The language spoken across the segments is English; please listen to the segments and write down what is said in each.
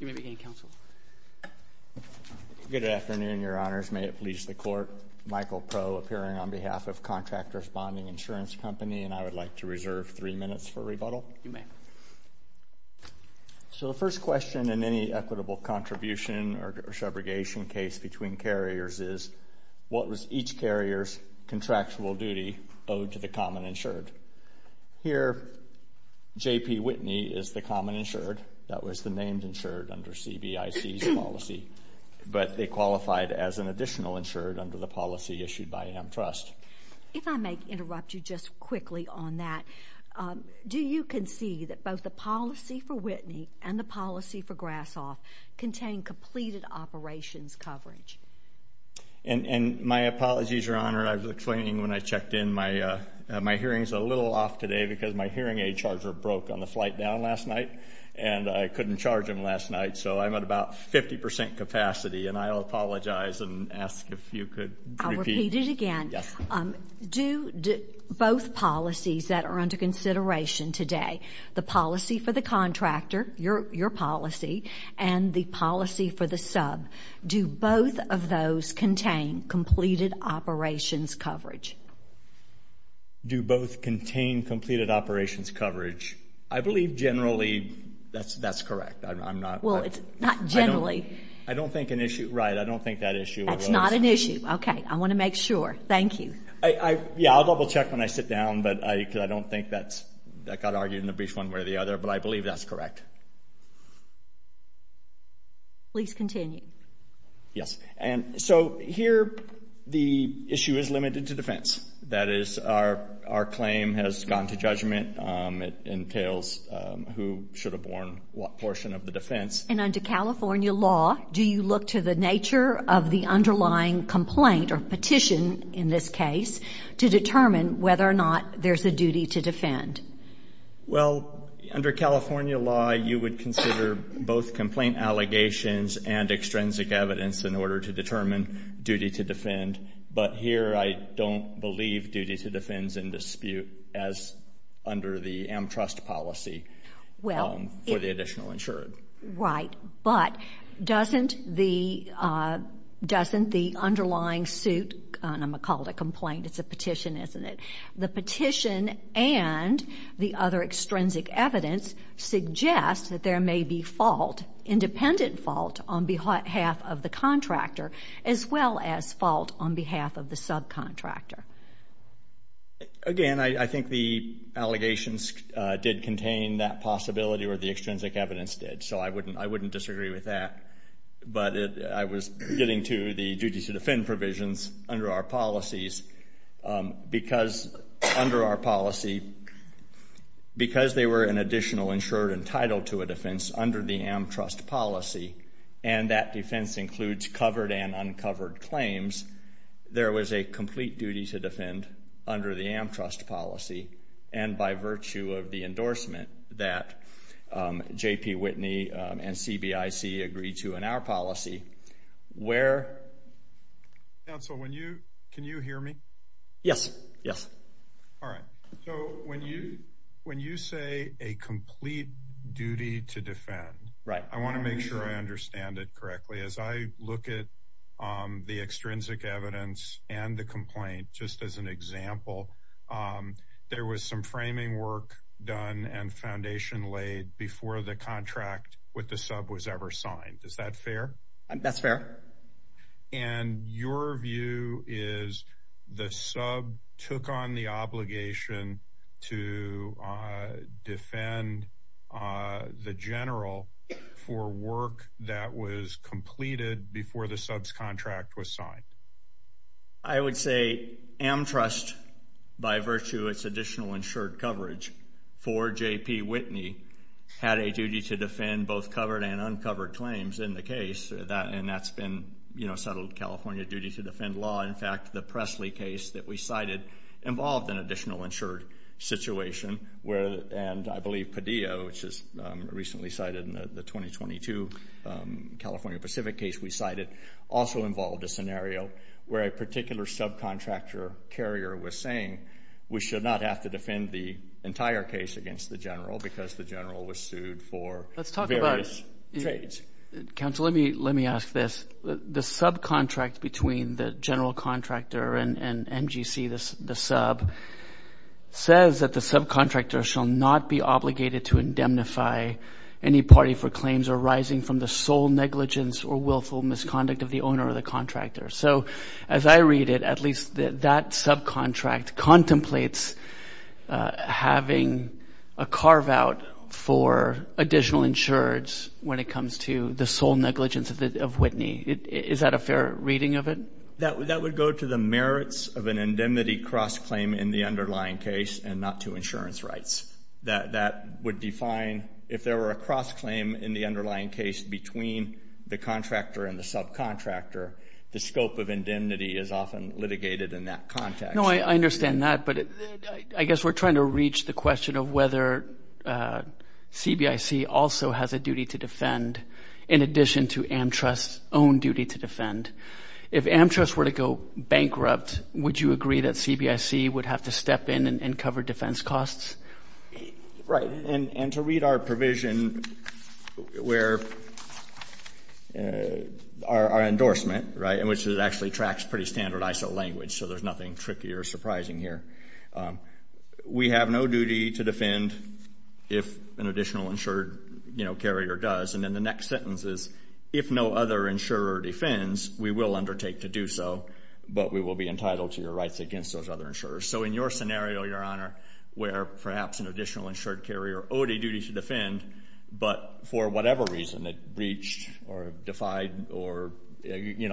You may begin, Counsel. Good afternoon, Your Honors. May it please the Court, Michael Proe appearing on behalf of Contractors Bonding & Insurance Company, and I would like to reserve three minutes for rebuttal. You may. So the first question in any equitable contribution or subrogation case between carriers is, what was each carrier's contractual duty owed to the common insured? Here, J.P. Whitney is the common insured. That was the named insured under CBIC's policy, but they qualified as an additional insured under the policy issued by AmTrust. If I may interrupt you just quickly on that, do you concede that both the policy for Whitney and the policy for Grassoff contain completed operations coverage? And my apologies, Your Honor. I was explaining when I checked in, my hearing is a little off today because my hearing aid charger broke on the flight down last night and I couldn't charge him last night, so I'm at about 50 percent capacity, and I apologize and ask if you could repeat. I'll repeat it again. Yes. Do both policies that are under consideration today, the policy for the contractor, your policy, and the policy for the sub, do both of those contain completed operations coverage? Do both contain completed operations coverage? I believe generally that's correct. I'm not. Well, it's not generally. I don't think an issue. Right. I don't think that issue was. That's not an issue. Okay. I want to make sure. Thank you. Yeah, I'll double check when I sit down, because I don't think that got argued in the brief one way or the other, but I believe that's correct. Please continue. Yes. And so here the issue is limited to defense. That is, our claim has gone to judgment. It entails who should have borne what portion of the defense. And under California law, do you look to the nature of the underlying complaint or petition in this case to determine whether or not there's a duty to defend? Well, under California law, you would consider both complaint allegations and extrinsic evidence in order to determine duty to defend. But here I don't believe duty to defend is in dispute as under the AmTrust policy for the additional insured. Right. But doesn't the underlying suit, and I'm going to call it a complaint. It's a petition, isn't it? The petition and the other extrinsic evidence suggests that there may be fault, independent fault on behalf of the contractor as well as fault on behalf of the subcontractor. Again, I think the allegations did contain that possibility or the extrinsic evidence did. So I wouldn't disagree with that. But I was getting to the duty to defend provisions under our policies because under our policy, because they were an additional insured entitled to a defense under the AmTrust policy and that defense includes covered and uncovered claims, there was a complete duty to defend under the AmTrust policy and by virtue of the endorsement that J.P. Whitney and CBIC agreed to in our policy where... Counsel, can you hear me? Yes, yes. All right. So when you say a complete duty to defend, I want to make sure I understand it correctly. As I look at the extrinsic evidence and the complaint, just as an example, there was some framing work done and foundation laid before the contract with the sub was ever signed. Is that fair? That's fair. And your view is the sub took on the obligation to defend the general for work that was completed before the sub's contract was signed? I would say AmTrust, by virtue of its additional insured coverage, for J.P. Whitney had a duty to defend both covered and uncovered claims in the case and that's been settled California duty to defend law. In fact, the Presley case that we cited involved an additional insured situation and I believe Padilla, which is recently cited in the 2022 California Pacific case we cited, also involved a scenario where a particular subcontractor carrier was saying we should not have to defend the entire case against the general because the general was sued for various trades. Counsel, let me ask this. The subcontract between the general contractor and MGC, the sub, says that the subcontractor shall not be obligated to indemnify any party for claims arising from the sole negligence or willful misconduct of the owner or the contractor. So as I read it, at least that subcontract contemplates having a carve-out for additional insureds when it comes to the sole negligence of Whitney. Is that a fair reading of it? That would go to the merits of an indemnity cross-claim in the underlying case and not to insurance rights. That would define if there were a cross-claim in the underlying case between the contractor and the subcontractor, the scope of indemnity is often litigated in that context. No, I understand that, but I guess we're trying to reach the question of whether CBIC also has a duty to defend in addition to AmTrust's own duty to defend. If AmTrust were to go bankrupt, would you agree that CBIC would have to step in and cover defense costs? Right, and to read our provision where our endorsement, right, in which it actually tracks pretty standard ISO language so there's nothing tricky or surprising here. We have no duty to defend if an additional insured carrier does, and then the next sentence is if no other insurer defends, we will undertake to do so, but we will be entitled to your rights against those other insurers. So in your scenario, Your Honor, where perhaps an additional insured carrier owed a duty to defend, but for whatever reason it breached or defied or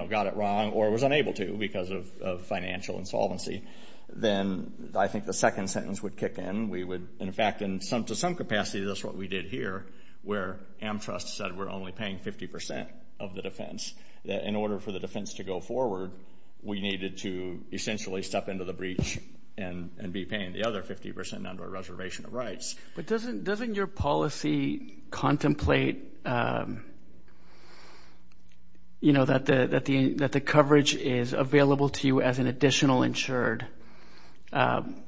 got it wrong or was unable to because of financial insolvency, then I think the second sentence would kick in. We would, in fact, in some capacity, that's what we did here, where AmTrust said we're only paying 50% of the defense. In order for the defense to go forward, we needed to essentially step into the breach and be paying the other 50% under a reservation of rights. But doesn't your policy contemplate, you know, that the coverage is available to you as an additional insured? And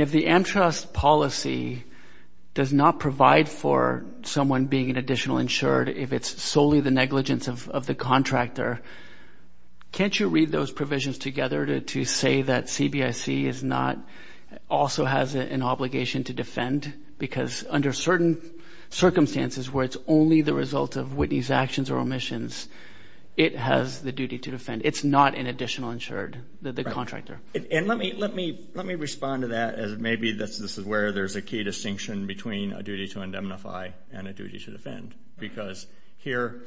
if the AmTrust policy does not provide for someone being an additional insured if it's solely the negligence of the contractor, can't you read those provisions together to say that CBIC also has an obligation to defend? Because under certain circumstances where it's only the result of Whitney's actions or omissions, it has the duty to defend. It's not an additional insured, the contractor. And let me respond to that as maybe this is where there's a key distinction between a duty to indemnify and a duty to defend. Because here,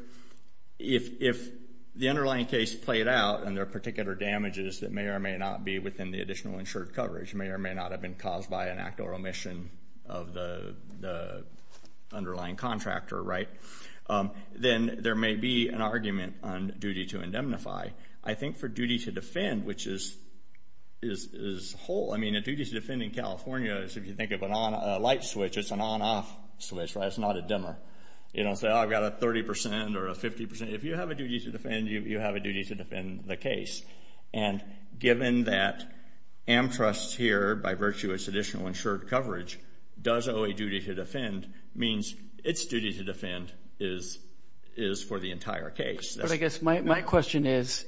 if the underlying case played out and there are particular damages that may or may not be within the additional insured coverage, may or may not have been caused by an act or omission of the underlying contractor, right, then there may be an argument on duty to indemnify. I think for duty to defend, which is whole. I mean, a duty to defend in California is if you think of a light switch, it's an on-off switch, right? It's not a dimmer. You don't say, oh, I've got a 30% or a 50%. If you have a duty to defend, you have a duty to defend the case. And given that AmTrust here, by virtue of its additional insured coverage, does owe a duty to defend, means its duty to defend is for the entire case. But I guess my question is,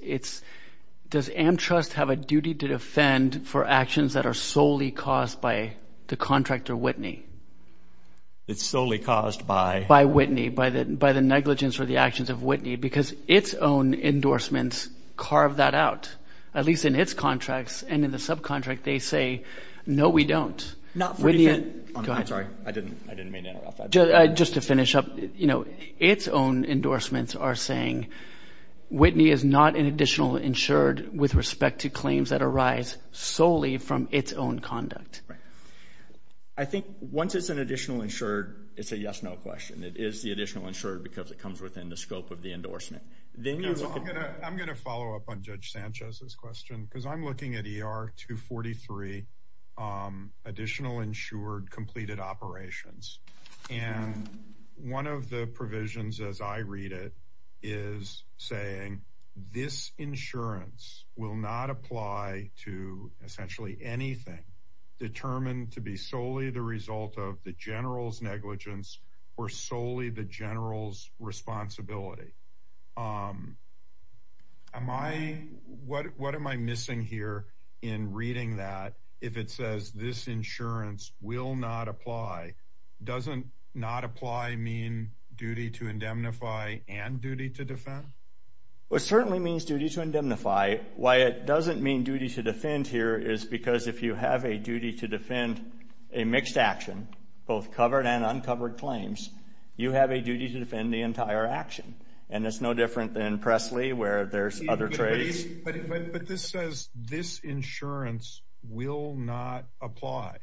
does AmTrust have a duty to defend for actions that are solely caused by the contractor Whitney? It's solely caused by? By Whitney, by the negligence or the actions of Whitney, because its own endorsements carve that out, at least in its contracts. And in the subcontract, they say, no, we don't. Not for defense. Go ahead. I'm sorry. I didn't mean to interrupt that. Just to finish up, you know, its own endorsements are saying Whitney is not an additional insured with respect to claims that arise solely from its own conduct. Right. I think once it's an additional insured, it's a yes-no question. It is the additional insured because it comes within the scope of the endorsement. I'm going to follow up on Judge Sanchez's question, because I'm looking at ER 243 additional insured completed operations. And one of the provisions, as I read it, is saying, this insurance will not apply to essentially anything determined to be solely the result of the general's negligence or solely the general's responsibility. What am I missing here in reading that? If it says this insurance will not apply, doesn't not apply mean duty to indemnify and duty to defend? Well, it certainly means duty to indemnify. Why it doesn't mean duty to defend here is because if you have a duty to defend, a mixed action, both covered and uncovered claims, you have a duty to defend the entire action. And it's no different than Presley where there's other trades. But this says this insurance will not apply.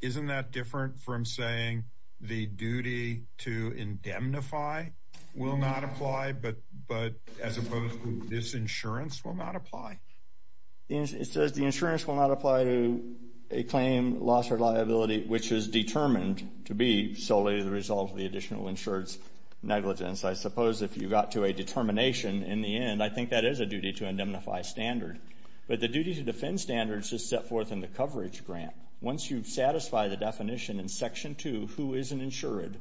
Isn't that different from saying the duty to indemnify will not apply, but as opposed to this insurance will not apply? It says the insurance will not apply to a claim, loss, or liability which is determined to be solely the result of the additional insured's negligence. I suppose if you got to a determination in the end, I think that is a duty to indemnify standard. But the duty to defend standards is set forth in the coverage grant. Once you've satisfied the definition in Section 2, who is an insured,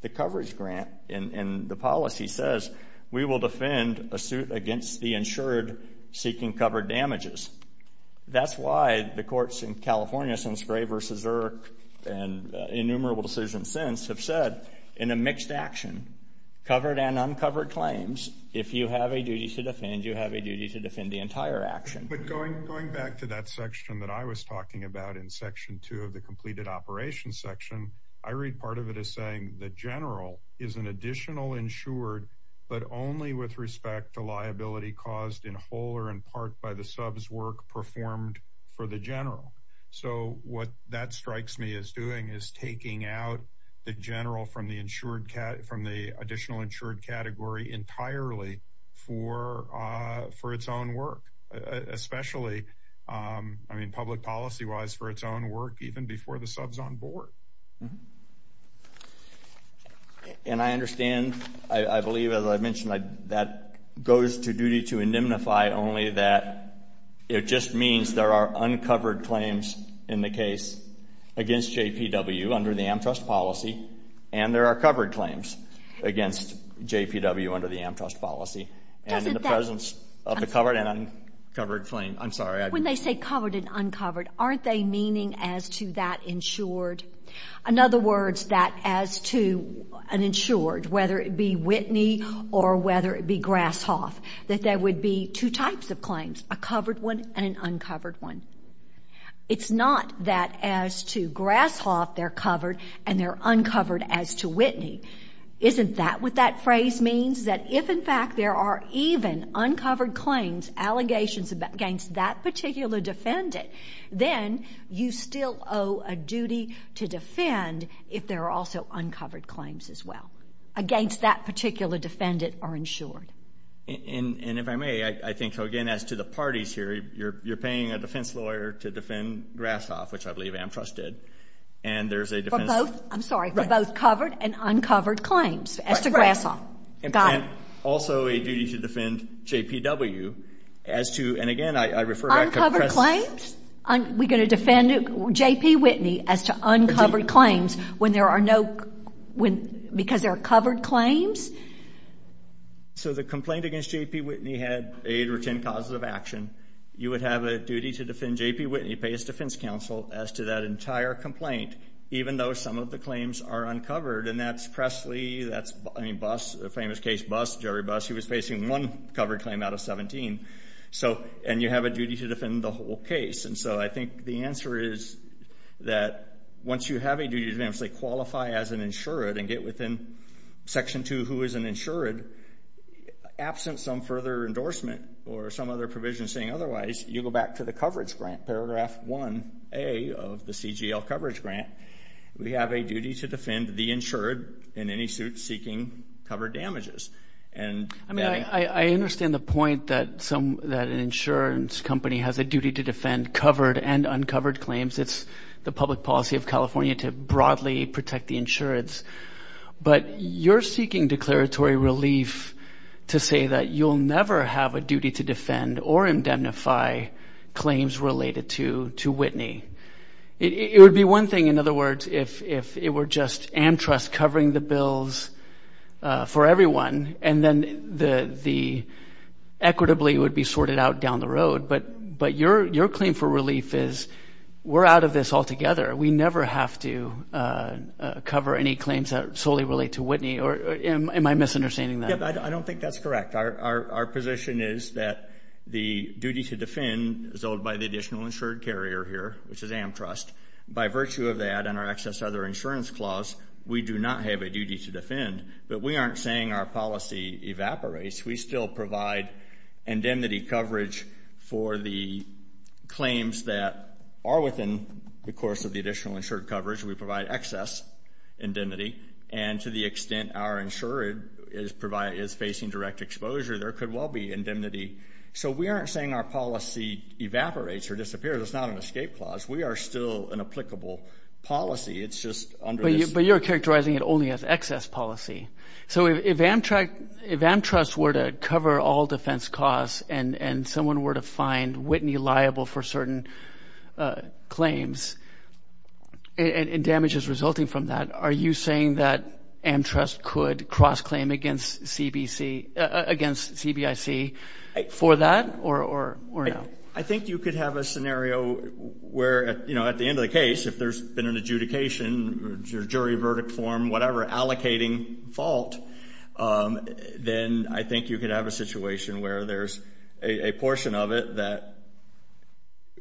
the coverage grant and the policy says we will defend a suit against the insured seeking covered damages. That's why the courts in California since Gray v. Erk and innumerable decisions since have said in a mixed action, covered and uncovered claims, if you have a duty to defend, you have a duty to defend the entire action. But going back to that section that I was talking about in Section 2 of the completed operations section, I read part of it as saying the general is an additional insured but only with respect to liability caused in whole or in part by the sub's work performed for the general. So what that strikes me as doing is taking out the general from the additional insured category entirely for its own work, especially, I mean, public policy-wise for its own work even before the sub's on board. And I understand, I believe, as I mentioned, that goes to duty to indemnify only that it just means there are uncovered claims in the case against JPW under the AmTrust policy and there are covered claims against JPW under the AmTrust policy. And in the presence of the covered and uncovered claim, I'm sorry. When they say covered and uncovered, aren't they meaning as to that insured In other words, that as to an insured, whether it be Whitney or whether it be Grasshoff, that there would be two types of claims, a covered one and an uncovered one. It's not that as to Grasshoff they're covered and they're uncovered as to Whitney. Isn't that what that phrase means? That if, in fact, there are even uncovered claims, allegations against that particular defendant, then you still owe a duty to defend if there are also uncovered claims as well against that particular defendant or insured. And if I may, I think, again, as to the parties here, you're paying a defense lawyer to defend Grasshoff, which I believe AmTrust did, and there's a defense lawyer. For both, I'm sorry, for both covered and uncovered claims as to Grasshoff. Right, right. Got it. And also a duty to defend JPW as to, and again, I refer back to press. Uncovered claims? Are we going to defend JPWhitney as to uncovered claims when there are no, because there are covered claims? So the complaint against JPWhitney had eight or 10 causes of action. You would have a duty to defend JPWhitney, pay his defense counsel, as to that entire complaint, even though some of the claims are uncovered, and that's Pressley, that's, I mean, Buss, the famous case Buss, Jerry Buss. He was facing one covered claim out of 17. And you have a duty to defend the whole case. And so I think the answer is that once you have a duty to, say, qualify as an insured and get within Section 2 who is an insured, absent some further endorsement or some other provision saying otherwise, you go back to the coverage grant, Paragraph 1A of the CGL coverage grant. We have a duty to defend the insured in any suit seeking covered damages. I mean, I understand the point that an insurance company has a duty to defend covered and uncovered claims. It's the public policy of California to broadly protect the insurance. But you're seeking declaratory relief to say that you'll never have a duty to defend or indemnify claims related to Whitney. It would be one thing, in other words, if it were just AmTrust covering the bills for everyone and then the equitably would be sorted out down the road. But your claim for relief is we're out of this altogether. We never have to cover any claims that solely relate to Whitney. Am I misunderstanding that? I don't think that's correct. Our position is that the duty to defend is owed by the additional insured carrier here, which is AmTrust. By virtue of that and our excess other insurance clause, we do not have a duty to defend. But we aren't saying our policy evaporates. We still provide indemnity coverage for the claims that are within the course of the additional insured coverage. We provide excess indemnity. And to the extent our insured is facing direct exposure, there could well be indemnity. So we aren't saying our policy evaporates or disappears. It's not an escape clause. We are still an applicable policy. It's just under this. But you're characterizing it only as excess policy. So if AmTrust were to cover all defense costs and someone were to find Whitney liable for certain claims and damages resulting from that, are you saying that AmTrust could cross-claim against CBIC for that or no? I think you could have a scenario where at the end of the case, if there's been an adjudication or jury verdict form, whatever, allocating fault, then I think you could have a situation where there's a portion of it that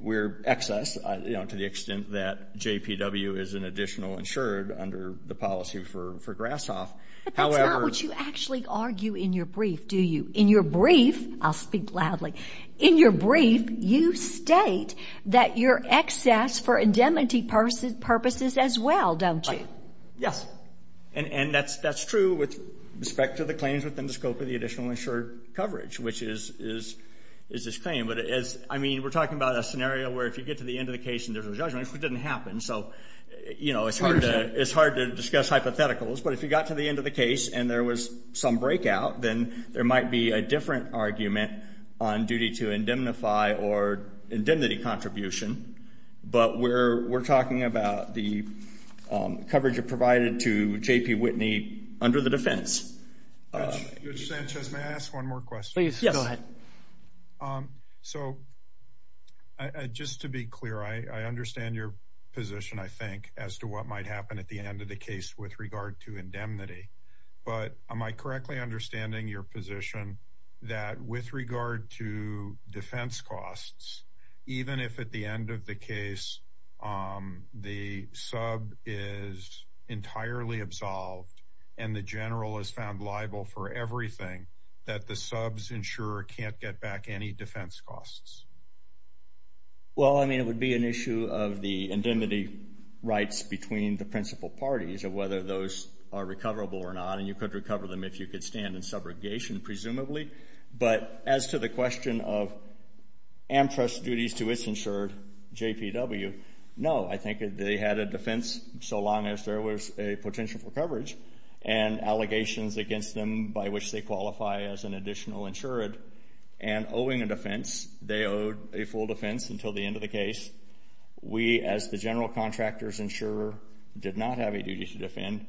we're excess to the extent that JPW is an additional insured under the policy for Grashof. But that's not what you actually argue in your brief, do you? In your brief, I'll speak loudly. In your brief, you state that you're excess for indemnity purposes as well, don't you? Yes. And that's true with respect to the claims within the scope of the additional insured coverage, which is this claim. But, I mean, we're talking about a scenario where if you get to the end of the case and there's a judgment, which didn't happen, so it's hard to discuss hypotheticals. But if you got to the end of the case and there was some breakout, then there might be a different argument on duty to indemnify or indemnity contribution. But we're talking about the coverage provided to JPWhitney under the defense. Judge Sanchez, may I ask one more question? Please, go ahead. So just to be clear, I understand your position, I think, as to what might happen at the end of the case with regard to indemnity. But am I correctly understanding your position that with regard to defense costs, even if at the end of the case the sub is entirely absolved and the general is found liable for everything, that the subs insurer can't get back any defense costs? Well, I mean, it would be an issue of the indemnity rights between the principal parties of whether those are recoverable or not. And you could recover them if you could stand in subrogation, presumably. But as to the question of AmTrust duties to its insured, JPW, no. I think they had a defense so long as there was a potential for coverage and allegations against them by which they qualify as an additional insured. And owing a defense, they owed a full defense until the end of the case. We, as the general contractor's insurer, did not have a duty to defend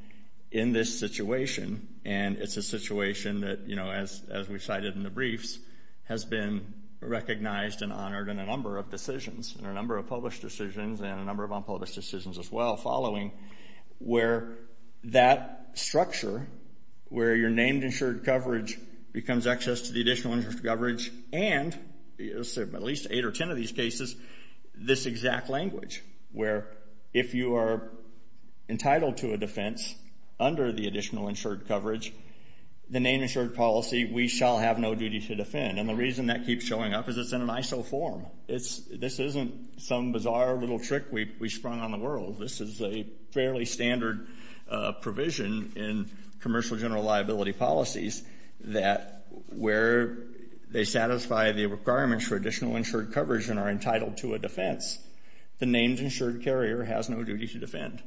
in this situation. And it's a situation that, you know, as we cited in the briefs, has been recognized and honored in a number of decisions, in a number of published decisions and a number of unpublished decisions as well following, where that structure, where you're named insured coverage becomes access to the additional insurance coverage and, at least eight or ten of these cases, this exact language where if you are entitled to a defense under the additional insured coverage, the name insured policy, we shall have no duty to defend. And the reason that keeps showing up is it's in an ISO form. This isn't some bizarre little trick we sprung on the world. This is a fairly standard provision in commercial general liability policies that where they satisfy the requirements for additional insured coverage and are entitled to a defense, the named insured carrier has no duty to defend.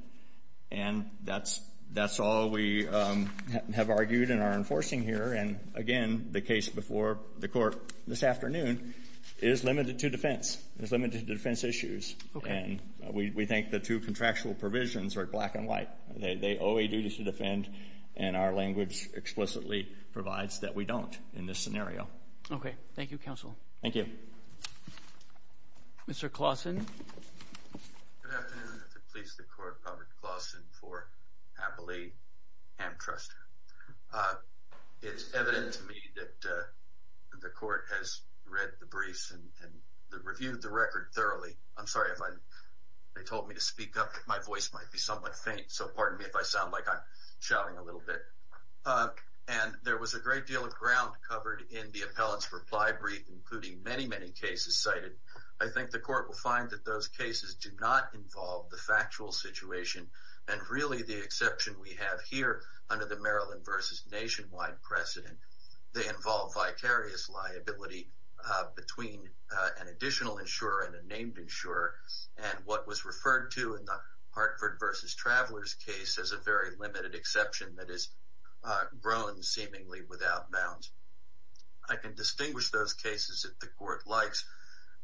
And that's all we have argued and are enforcing here. And, again, the case before the court this afternoon is limited to defense. It's limited to defense issues. And we think the two contractual provisions are black and white. They owe a duty to defend, and our language explicitly provides that we don't in this scenario. Okay. Thank you, counsel. Thank you. Mr. Klausen. Good afternoon. I'm here to please the court, Robert Klausen, for happily antitrust. It's evident to me that the court has read the briefs and reviewed the record thoroughly. I'm sorry if they told me to speak up. My voice might be somewhat faint, so pardon me if I sound like I'm shouting a little bit. And there was a great deal of ground covered in the appellant's reply brief, including many, many cases cited. I think the court will find that those cases do not involve the factual situation and really the exception we have here under the Maryland versus nationwide precedent. They involve vicarious liability between an additional insurer and a named insurer, and what was referred to in the Hartford versus Travelers case as a very limited exception that is grown seemingly without bounds. I can distinguish those cases that the court likes,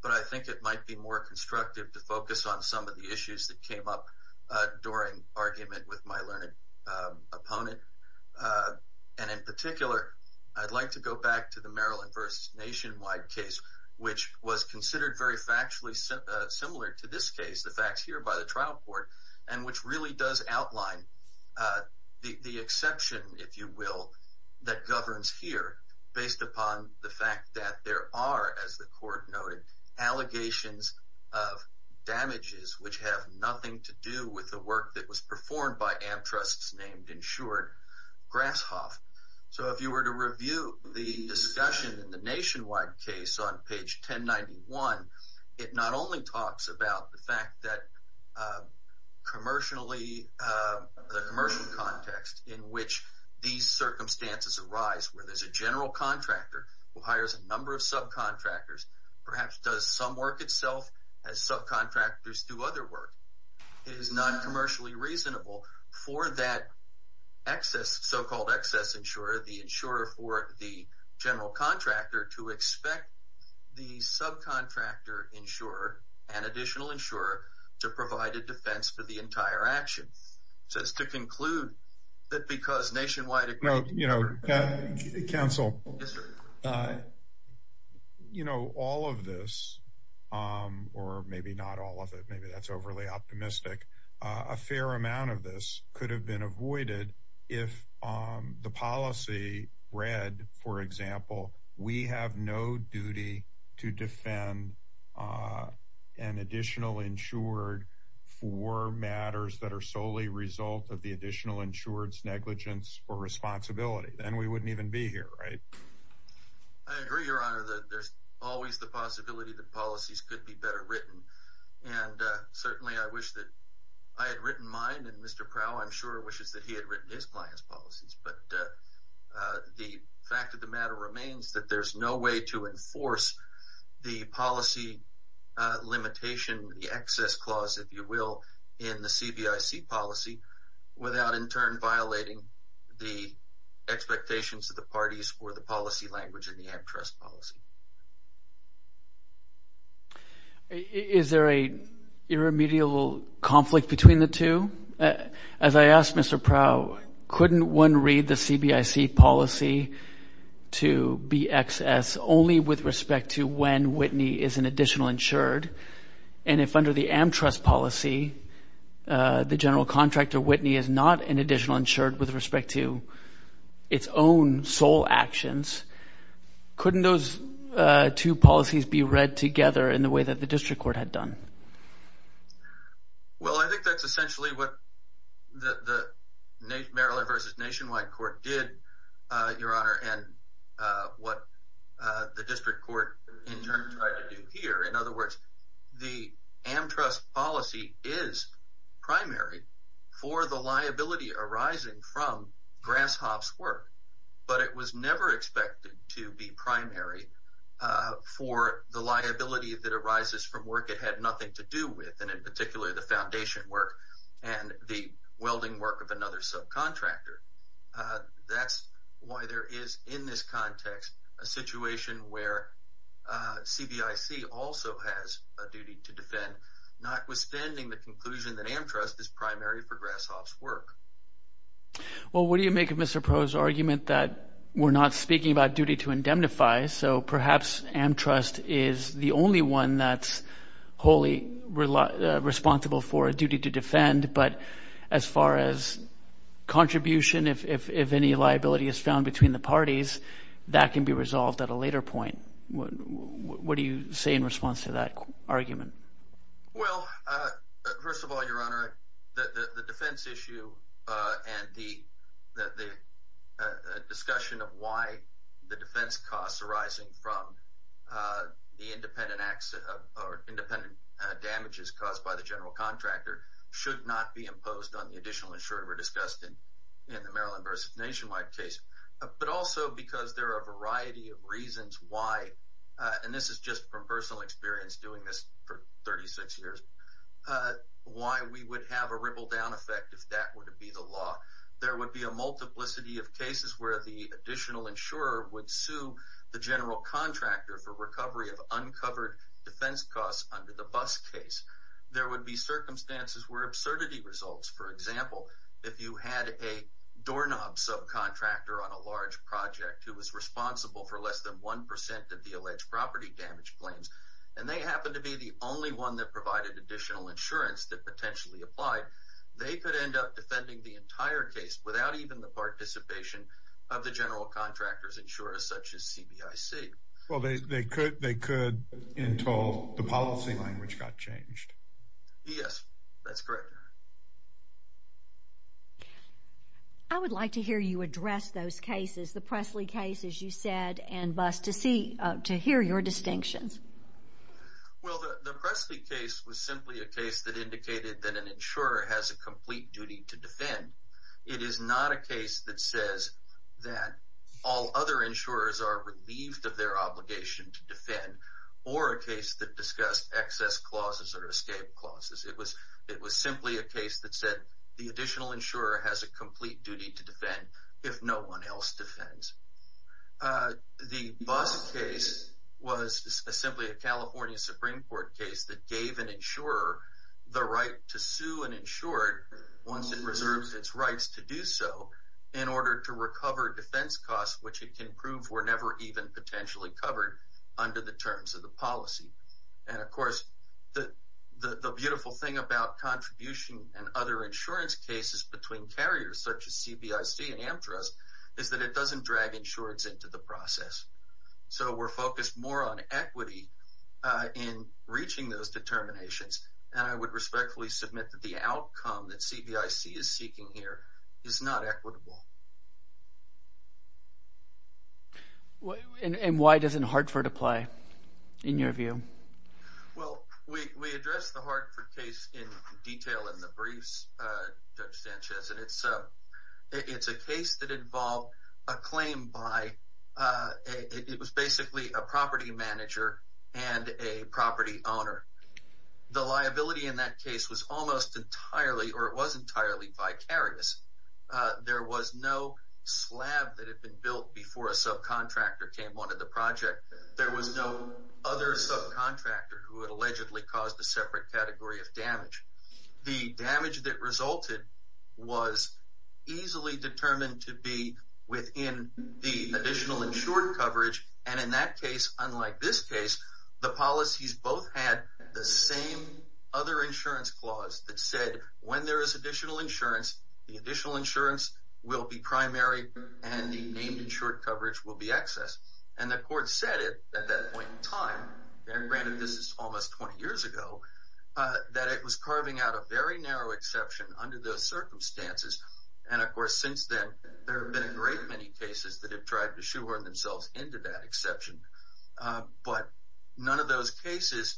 but I think it might be more constructive to focus on some of the issues that came up during argument with my learned opponent. And in particular, I'd like to go back to the Maryland versus nationwide case, which was considered very factually similar to this case, the facts here by the trial court, and which really does outline the exception, if you will, that governs here based upon the fact that there are, as the court noted, allegations of damages which have nothing to do with the work that was performed by amtrusts named insured grasshoff. So if you were to review the discussion in the nationwide case on page 1091, it not only talks about the fact that the commercial context in which these circumstances arise, where there's a general contractor who hires a number of subcontractors, perhaps does some work itself as subcontractors do other work. It is not commercially reasonable for that so-called excess insurer, the insurer for the general contractor, to expect the subcontractor insurer and additional insurer to provide a defense for the entire action. So it's to conclude that because nationwide... Council, you know, all of this, or maybe not all of it, maybe that's overly optimistic. A fair amount of this could have been avoided if the policy read, for example, we have no duty to defend an additional insured for matters that are solely result of the additional insured's negligence or responsibility. Then we wouldn't even be here, right? I agree, Your Honor, that there's always the possibility that policies could be better written. And certainly I wish that I had written mine, and Mr. Prowl, I'm sure, wishes that he had written his client's policies. But the fact of the matter remains that there's no way to enforce the policy limitation, the excess clause, if you will, in the CBIC policy, without in turn violating the expectations of the parties for the policy language in the antitrust policy. Is there an irremediable conflict between the two? As I asked Mr. Prowl, couldn't one read the CBIC policy to BXS only with respect to when Whitney is an additional insured? And if under the antitrust policy, the general contractor, Whitney, is not an additional insured with respect to its own sole actions, couldn't those two policies be read together in the way that the district court had done? Well, I think that's essentially what the Maryland v. Nationwide court did, Your Honor, and what the district court in turn tried to do here. In other words, the antitrust policy is primary for the liability arising from Grasshop's work, but it was never expected to be primary for the liability that arises from work it had nothing to do with, and in particular the foundation work and the welding work of another subcontractor. That's why there is in this context a situation where CBIC also has a duty to defend, notwithstanding the conclusion that antitrust is primary for Grasshop's work. Well, what do you make of Mr. Prowl's argument that we're not speaking about duty to indemnify, so perhaps antitrust is the only one that's wholly responsible for a duty to defend, but as far as contribution, if any liability is found between the parties, that can be resolved at a later point. What do you say in response to that argument? Well, first of all, Your Honor, the defense issue and the discussion of why the defense costs arising from the independent damages caused by the general contractor should not be imposed on the additional insurer we're discussing in the Maryland v. Nationwide case, but also because there are a variety of reasons why, and this is just from personal experience doing this for 36 years, why we would have a ripple down effect if that were to be the law. There would be a multiplicity of cases where the additional insurer would sue the general contractor for recovery of uncovered defense costs under the bus case. There would be circumstances where absurdity results. For example, if you had a doorknob subcontractor on a large project who was responsible for less than 1% of the alleged property damage claims, and they happened to be the only one that provided additional insurance that potentially applied, they could end up defending the entire case without even the participation of the general contractor's insurer, such as CBIC. Well, they could until the policy language got changed. Yes, that's correct. I would like to hear you address those cases, the Pressley case, as you said, and Buss, to hear your distinctions. Well, the Pressley case was simply a case that indicated that an insurer has a complete duty to defend. It is not a case that says that all other insurers are relieved of their obligation to defend, or a case that discussed excess clauses or escape clauses. It was simply a case that said the additional insurer has a complete duty to defend if no one else defends. The Buss case was simply a California Supreme Court case that gave an insurer the right to sue an insured once it reserves its rights to do so in order to recover defense costs, which it can prove were never even potentially covered under the terms of the policy. And, of course, the beautiful thing about contribution and other insurance cases between carriers, such as CBIC and Amtrust, is that it doesn't drag insureds into the process. So we're focused more on equity in reaching those determinations, and I would respectfully submit that the outcome that CBIC is seeking here is not equitable. And why doesn't Hartford apply in your view? Well, we addressed the Hartford case in detail in the briefs, Judge Sanchez, and it's a case that involved a claim by – it was basically a property manager and a property owner. The liability in that case was almost entirely, or it was entirely, vicarious. There was no slab that had been built before a subcontractor came on to the project. There was no other subcontractor who had allegedly caused a separate category of damage. The damage that resulted was easily determined to be within the additional insured coverage, and in that case, unlike this case, the policies both had the same other insurance clause that said, when there is additional insurance, the additional insurance will be primary, and the named insured coverage will be excess. And the court said it at that point in time, and granted this is almost 20 years ago, that it was carving out a very narrow exception under those circumstances. And, of course, since then, there have been a great many cases that have tried to shoehorn themselves into that exception. But none of those cases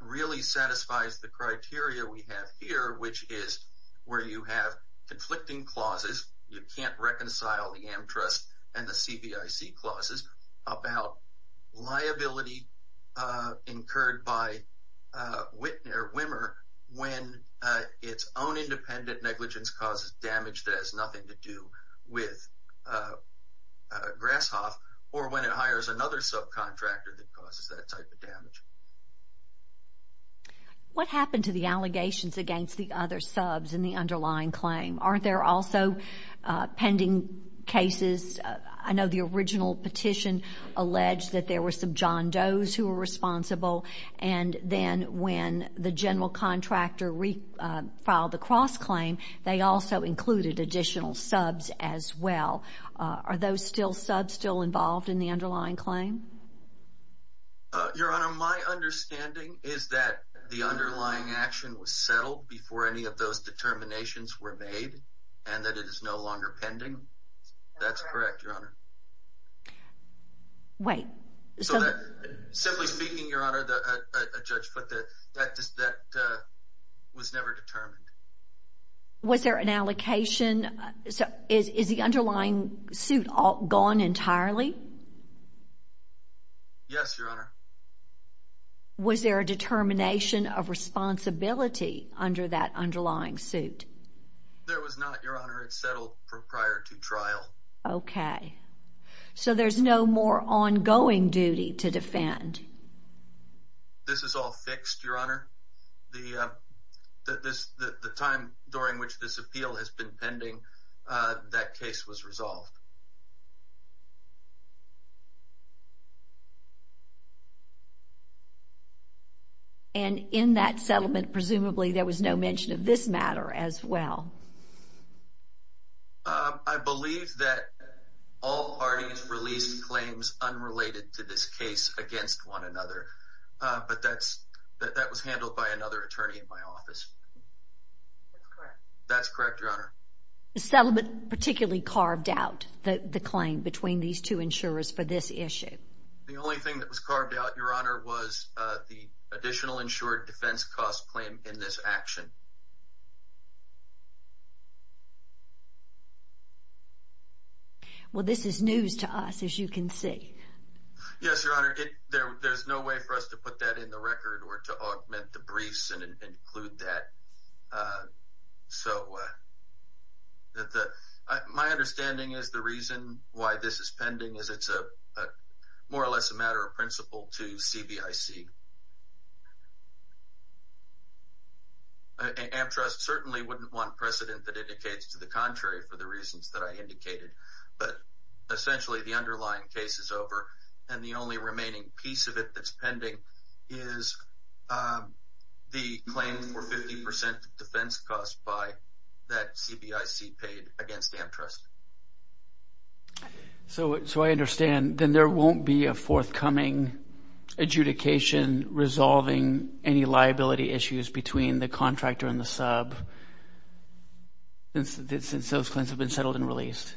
really satisfies the criteria we have here, which is where you have conflicting clauses. You can't reconcile the AmTrust and the CBIC clauses about liability incurred by Whittner, when its own independent negligence causes damage that has nothing to do with Grasshoff, or when it hires another subcontractor that causes that type of damage. What happened to the allegations against the other subs in the underlying claim? Aren't there also pending cases? I know the original petition alleged that there were some John Does who were responsible, and then when the general contractor filed the cross-claim, they also included additional subs as well. Are those subs still involved in the underlying claim? Your Honor, my understanding is that the underlying action was settled before any of those determinations were made, and that it is no longer pending. That's correct, Your Honor. Wait. Simply speaking, Your Honor, a judge put that that was never determined. Was there an allocation? Is the underlying suit gone entirely? Yes, Your Honor. Was there a determination of responsibility under that underlying suit? There was not, Your Honor. It settled prior to trial. Okay. So there's no more ongoing duty to defend? This is all fixed, Your Honor. The time during which this appeal has been pending, that case was resolved. And in that settlement, presumably, there was no mention of this matter as well? I believe that all parties released claims unrelated to this case against one another, but that was handled by another attorney in my office. That's correct, Your Honor. The settlement particularly carved out the claim between these two insurers for this issue? The only thing that was carved out, Your Honor, was the additional insured defense cost claim in this action. Well, this is news to us, as you can see. Yes, Your Honor. There's no way for us to put that in the record or to augment the briefs and include that. So my understanding is the reason why this is pending is it's more or less a matter of principle to CBIC. AmTrust certainly wouldn't want precedent that indicates to the contrary for the reasons that I indicated. But essentially, the underlying case is over, and the only remaining piece of it that's pending is the claim for 50 percent defense cost by that CBIC paid against AmTrust. So I understand. Then there won't be a forthcoming adjudication resolving any liability issues between the contractor and the sub since those claims have been settled and released?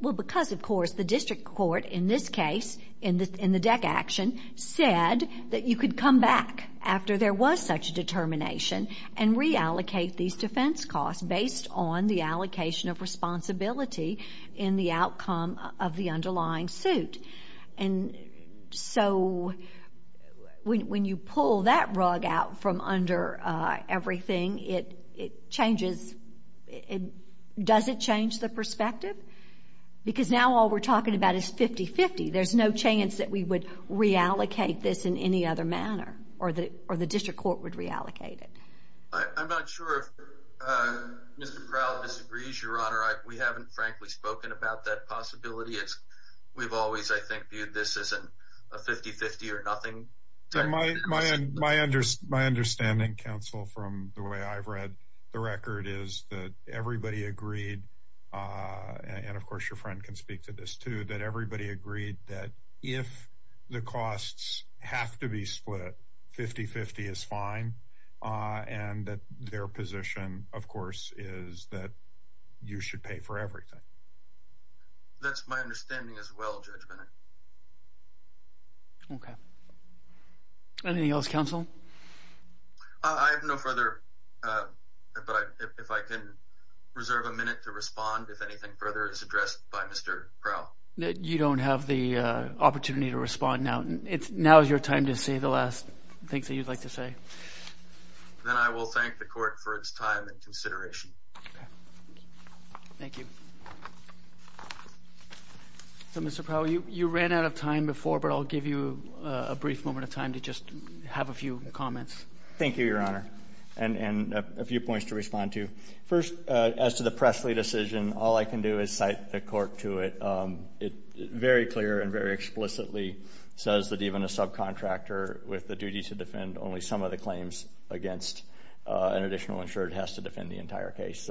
Well, because, of course, the district court in this case, in the DEC action, said that you could come back after there was such a determination and reallocate these defense costs based on the allocation of responsibility in the outcome of the underlying suit. And so when you pull that rug out from under everything, it changes. Does it change the perspective? Because now all we're talking about is 50-50. There's no chance that we would reallocate this in any other manner or the district court would reallocate it. I'm not sure if Mr. Crowell disagrees, Your Honor. We haven't, frankly, spoken about that possibility. We've always, I think, viewed this as a 50-50 or nothing. My understanding, counsel, from the way I've read the record is that everybody agreed, and, of course, your friend can speak to this, too, that everybody agreed that if the costs have to be split, 50-50 is fine and that their position, of course, is that you should pay for everything. That's my understanding as well, Judge Bennett. Okay. Anything else, counsel? I have no further, but if I can reserve a minute to respond if anything further is addressed by Mr. Crowell. You don't have the opportunity to respond now. Now is your time to say the last things that you'd like to say. Then I will thank the court for its time and consideration. Thank you. Mr. Crowell, you ran out of time before, but I'll give you a brief moment of time to just have a few comments. Thank you, Your Honor, and a few points to respond to. First, as to the Pressley decision, all I can do is cite the court to it. It very clear and very explicitly says that even a subcontractor with the duty to defend only some of the claims against an additional insurer has to defend the entire case.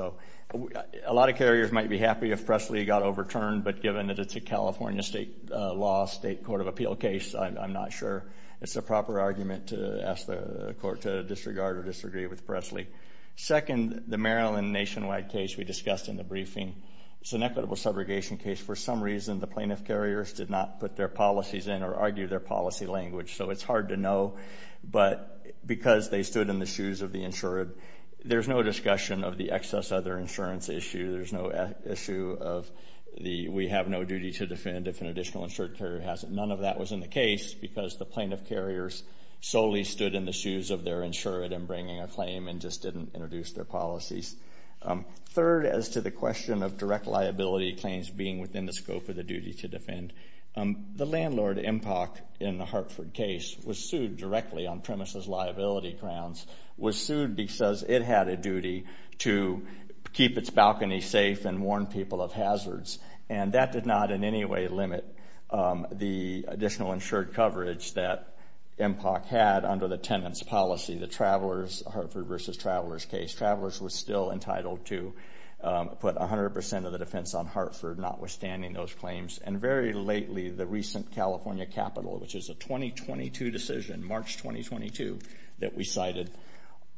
A lot of carriers might be happy if Pressley got overturned, but given that it's a California state law, state court of appeal case, I'm not sure. It's a proper argument to ask the court to disregard or disagree with Pressley. Second, the Maryland nationwide case we discussed in the briefing. It's an equitable subrogation case. For some reason, the plaintiff carriers did not put their policies in or argue their policy language, so it's hard to know. But because they stood in the shoes of the insured, there's no discussion of the excess other insurance issue. There's no issue of the we have no duty to defend if an additional insured carrier has it. None of that was in the case because the plaintiff carriers solely stood in the shoes of their insured in bringing a claim and just didn't introduce their policies. Third, as to the question of direct liability claims being within the scope of the duty to defend, the landlord, MPOC, in the Hartford case was sued directly on premises liability grounds, was sued because it had a duty to keep its balcony safe and warn people of hazards. And that did not in any way limit the additional insured coverage that MPOC had under the tenant's policy, the travelers, Hartford versus travelers case. Travelers were still entitled to put 100% of the defense on Hartford, notwithstanding those claims. And very lately, the recent California capital, which is a 2022 decision, March 2022 that we cited,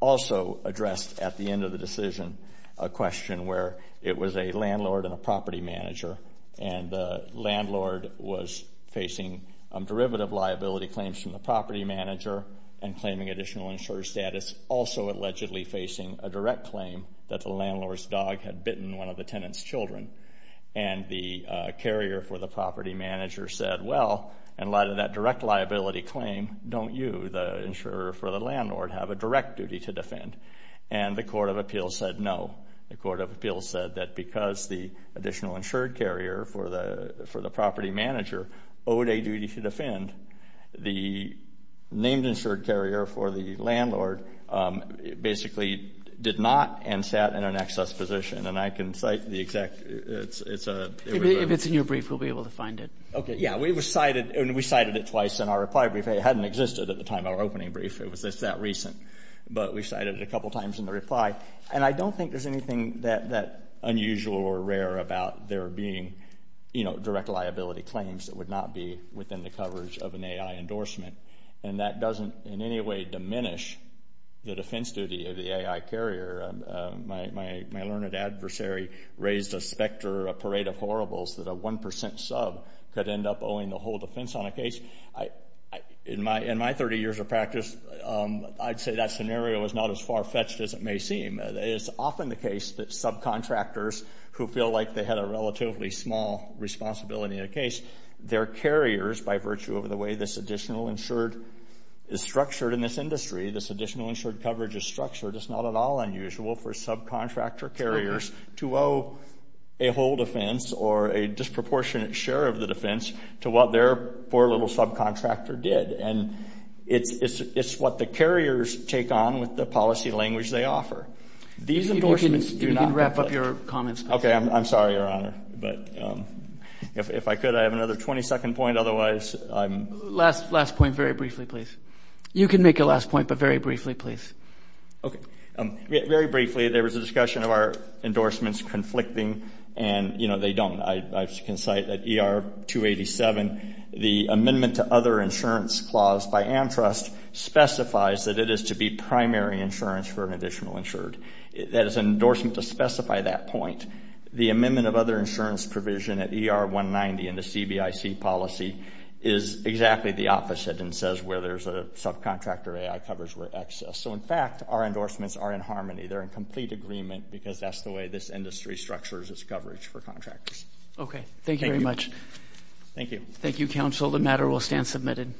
also addressed at the end of the decision a question where it was a landlord and a property manager, and the landlord was facing derivative liability claims from the property manager and claiming additional insured status, also allegedly facing a direct claim that the landlord's dog had bitten one of the tenant's children. And the carrier for the property manager said, well, in light of that direct liability claim, don't you, the insurer for the landlord, have a direct duty to defend? And the court of appeals said no. The court of appeals said that because the additional insured carrier for the property manager owed a duty to defend, the named insured carrier for the landlord basically did not and sat in an excess position. And I can cite the exact – it's a – If it's in your brief, we'll be able to find it. Okay, yeah. We cited it twice in our reply brief. It hadn't existed at the time of our opening brief. It was just that recent. But we cited it a couple times in the reply. And I don't think there's anything that unusual or rare about there being, you know, direct liability claims that would not be within the coverage of an AI endorsement. And that doesn't in any way diminish the defense duty of the AI carrier. My learned adversary raised a specter, a parade of horribles, that a 1% sub could end up owing the whole defense on a case. In my 30 years of practice, I'd say that scenario is not as far-fetched as it may seem. It's often the case that subcontractors who feel like they had a relatively small responsibility in a case, their carriers, by virtue of the way this additional insured is structured in this industry, this additional insured coverage is structured, it's not at all unusual for subcontractor carriers to owe a whole defense or a disproportionate share of the defense to what their poor little subcontractor did. And it's what the carriers take on with the policy language they offer. These endorsements do not. You can wrap up your comments. Okay. I'm sorry, Your Honor. But if I could, I have another 20-second point. Otherwise, I'm. Last point very briefly, please. You can make a last point, but very briefly, please. Okay. Very briefly, there was a discussion of our endorsements conflicting, and, you know, they don't. I can cite that ER-287, the amendment to other insurance clause by AmTrust, specifies that it is to be primary insurance for an additional insured. That is an endorsement to specify that point. The amendment of other insurance provision at ER-190 in the CBIC policy is exactly the opposite and says where there's a subcontractor, AI covers where excess. So, in fact, our endorsements are in harmony. They're in complete agreement because that's the way this industry structures its coverage for contractors. Okay. Thank you very much. Thank you. Thank you, counsel. The matter will stand submitted.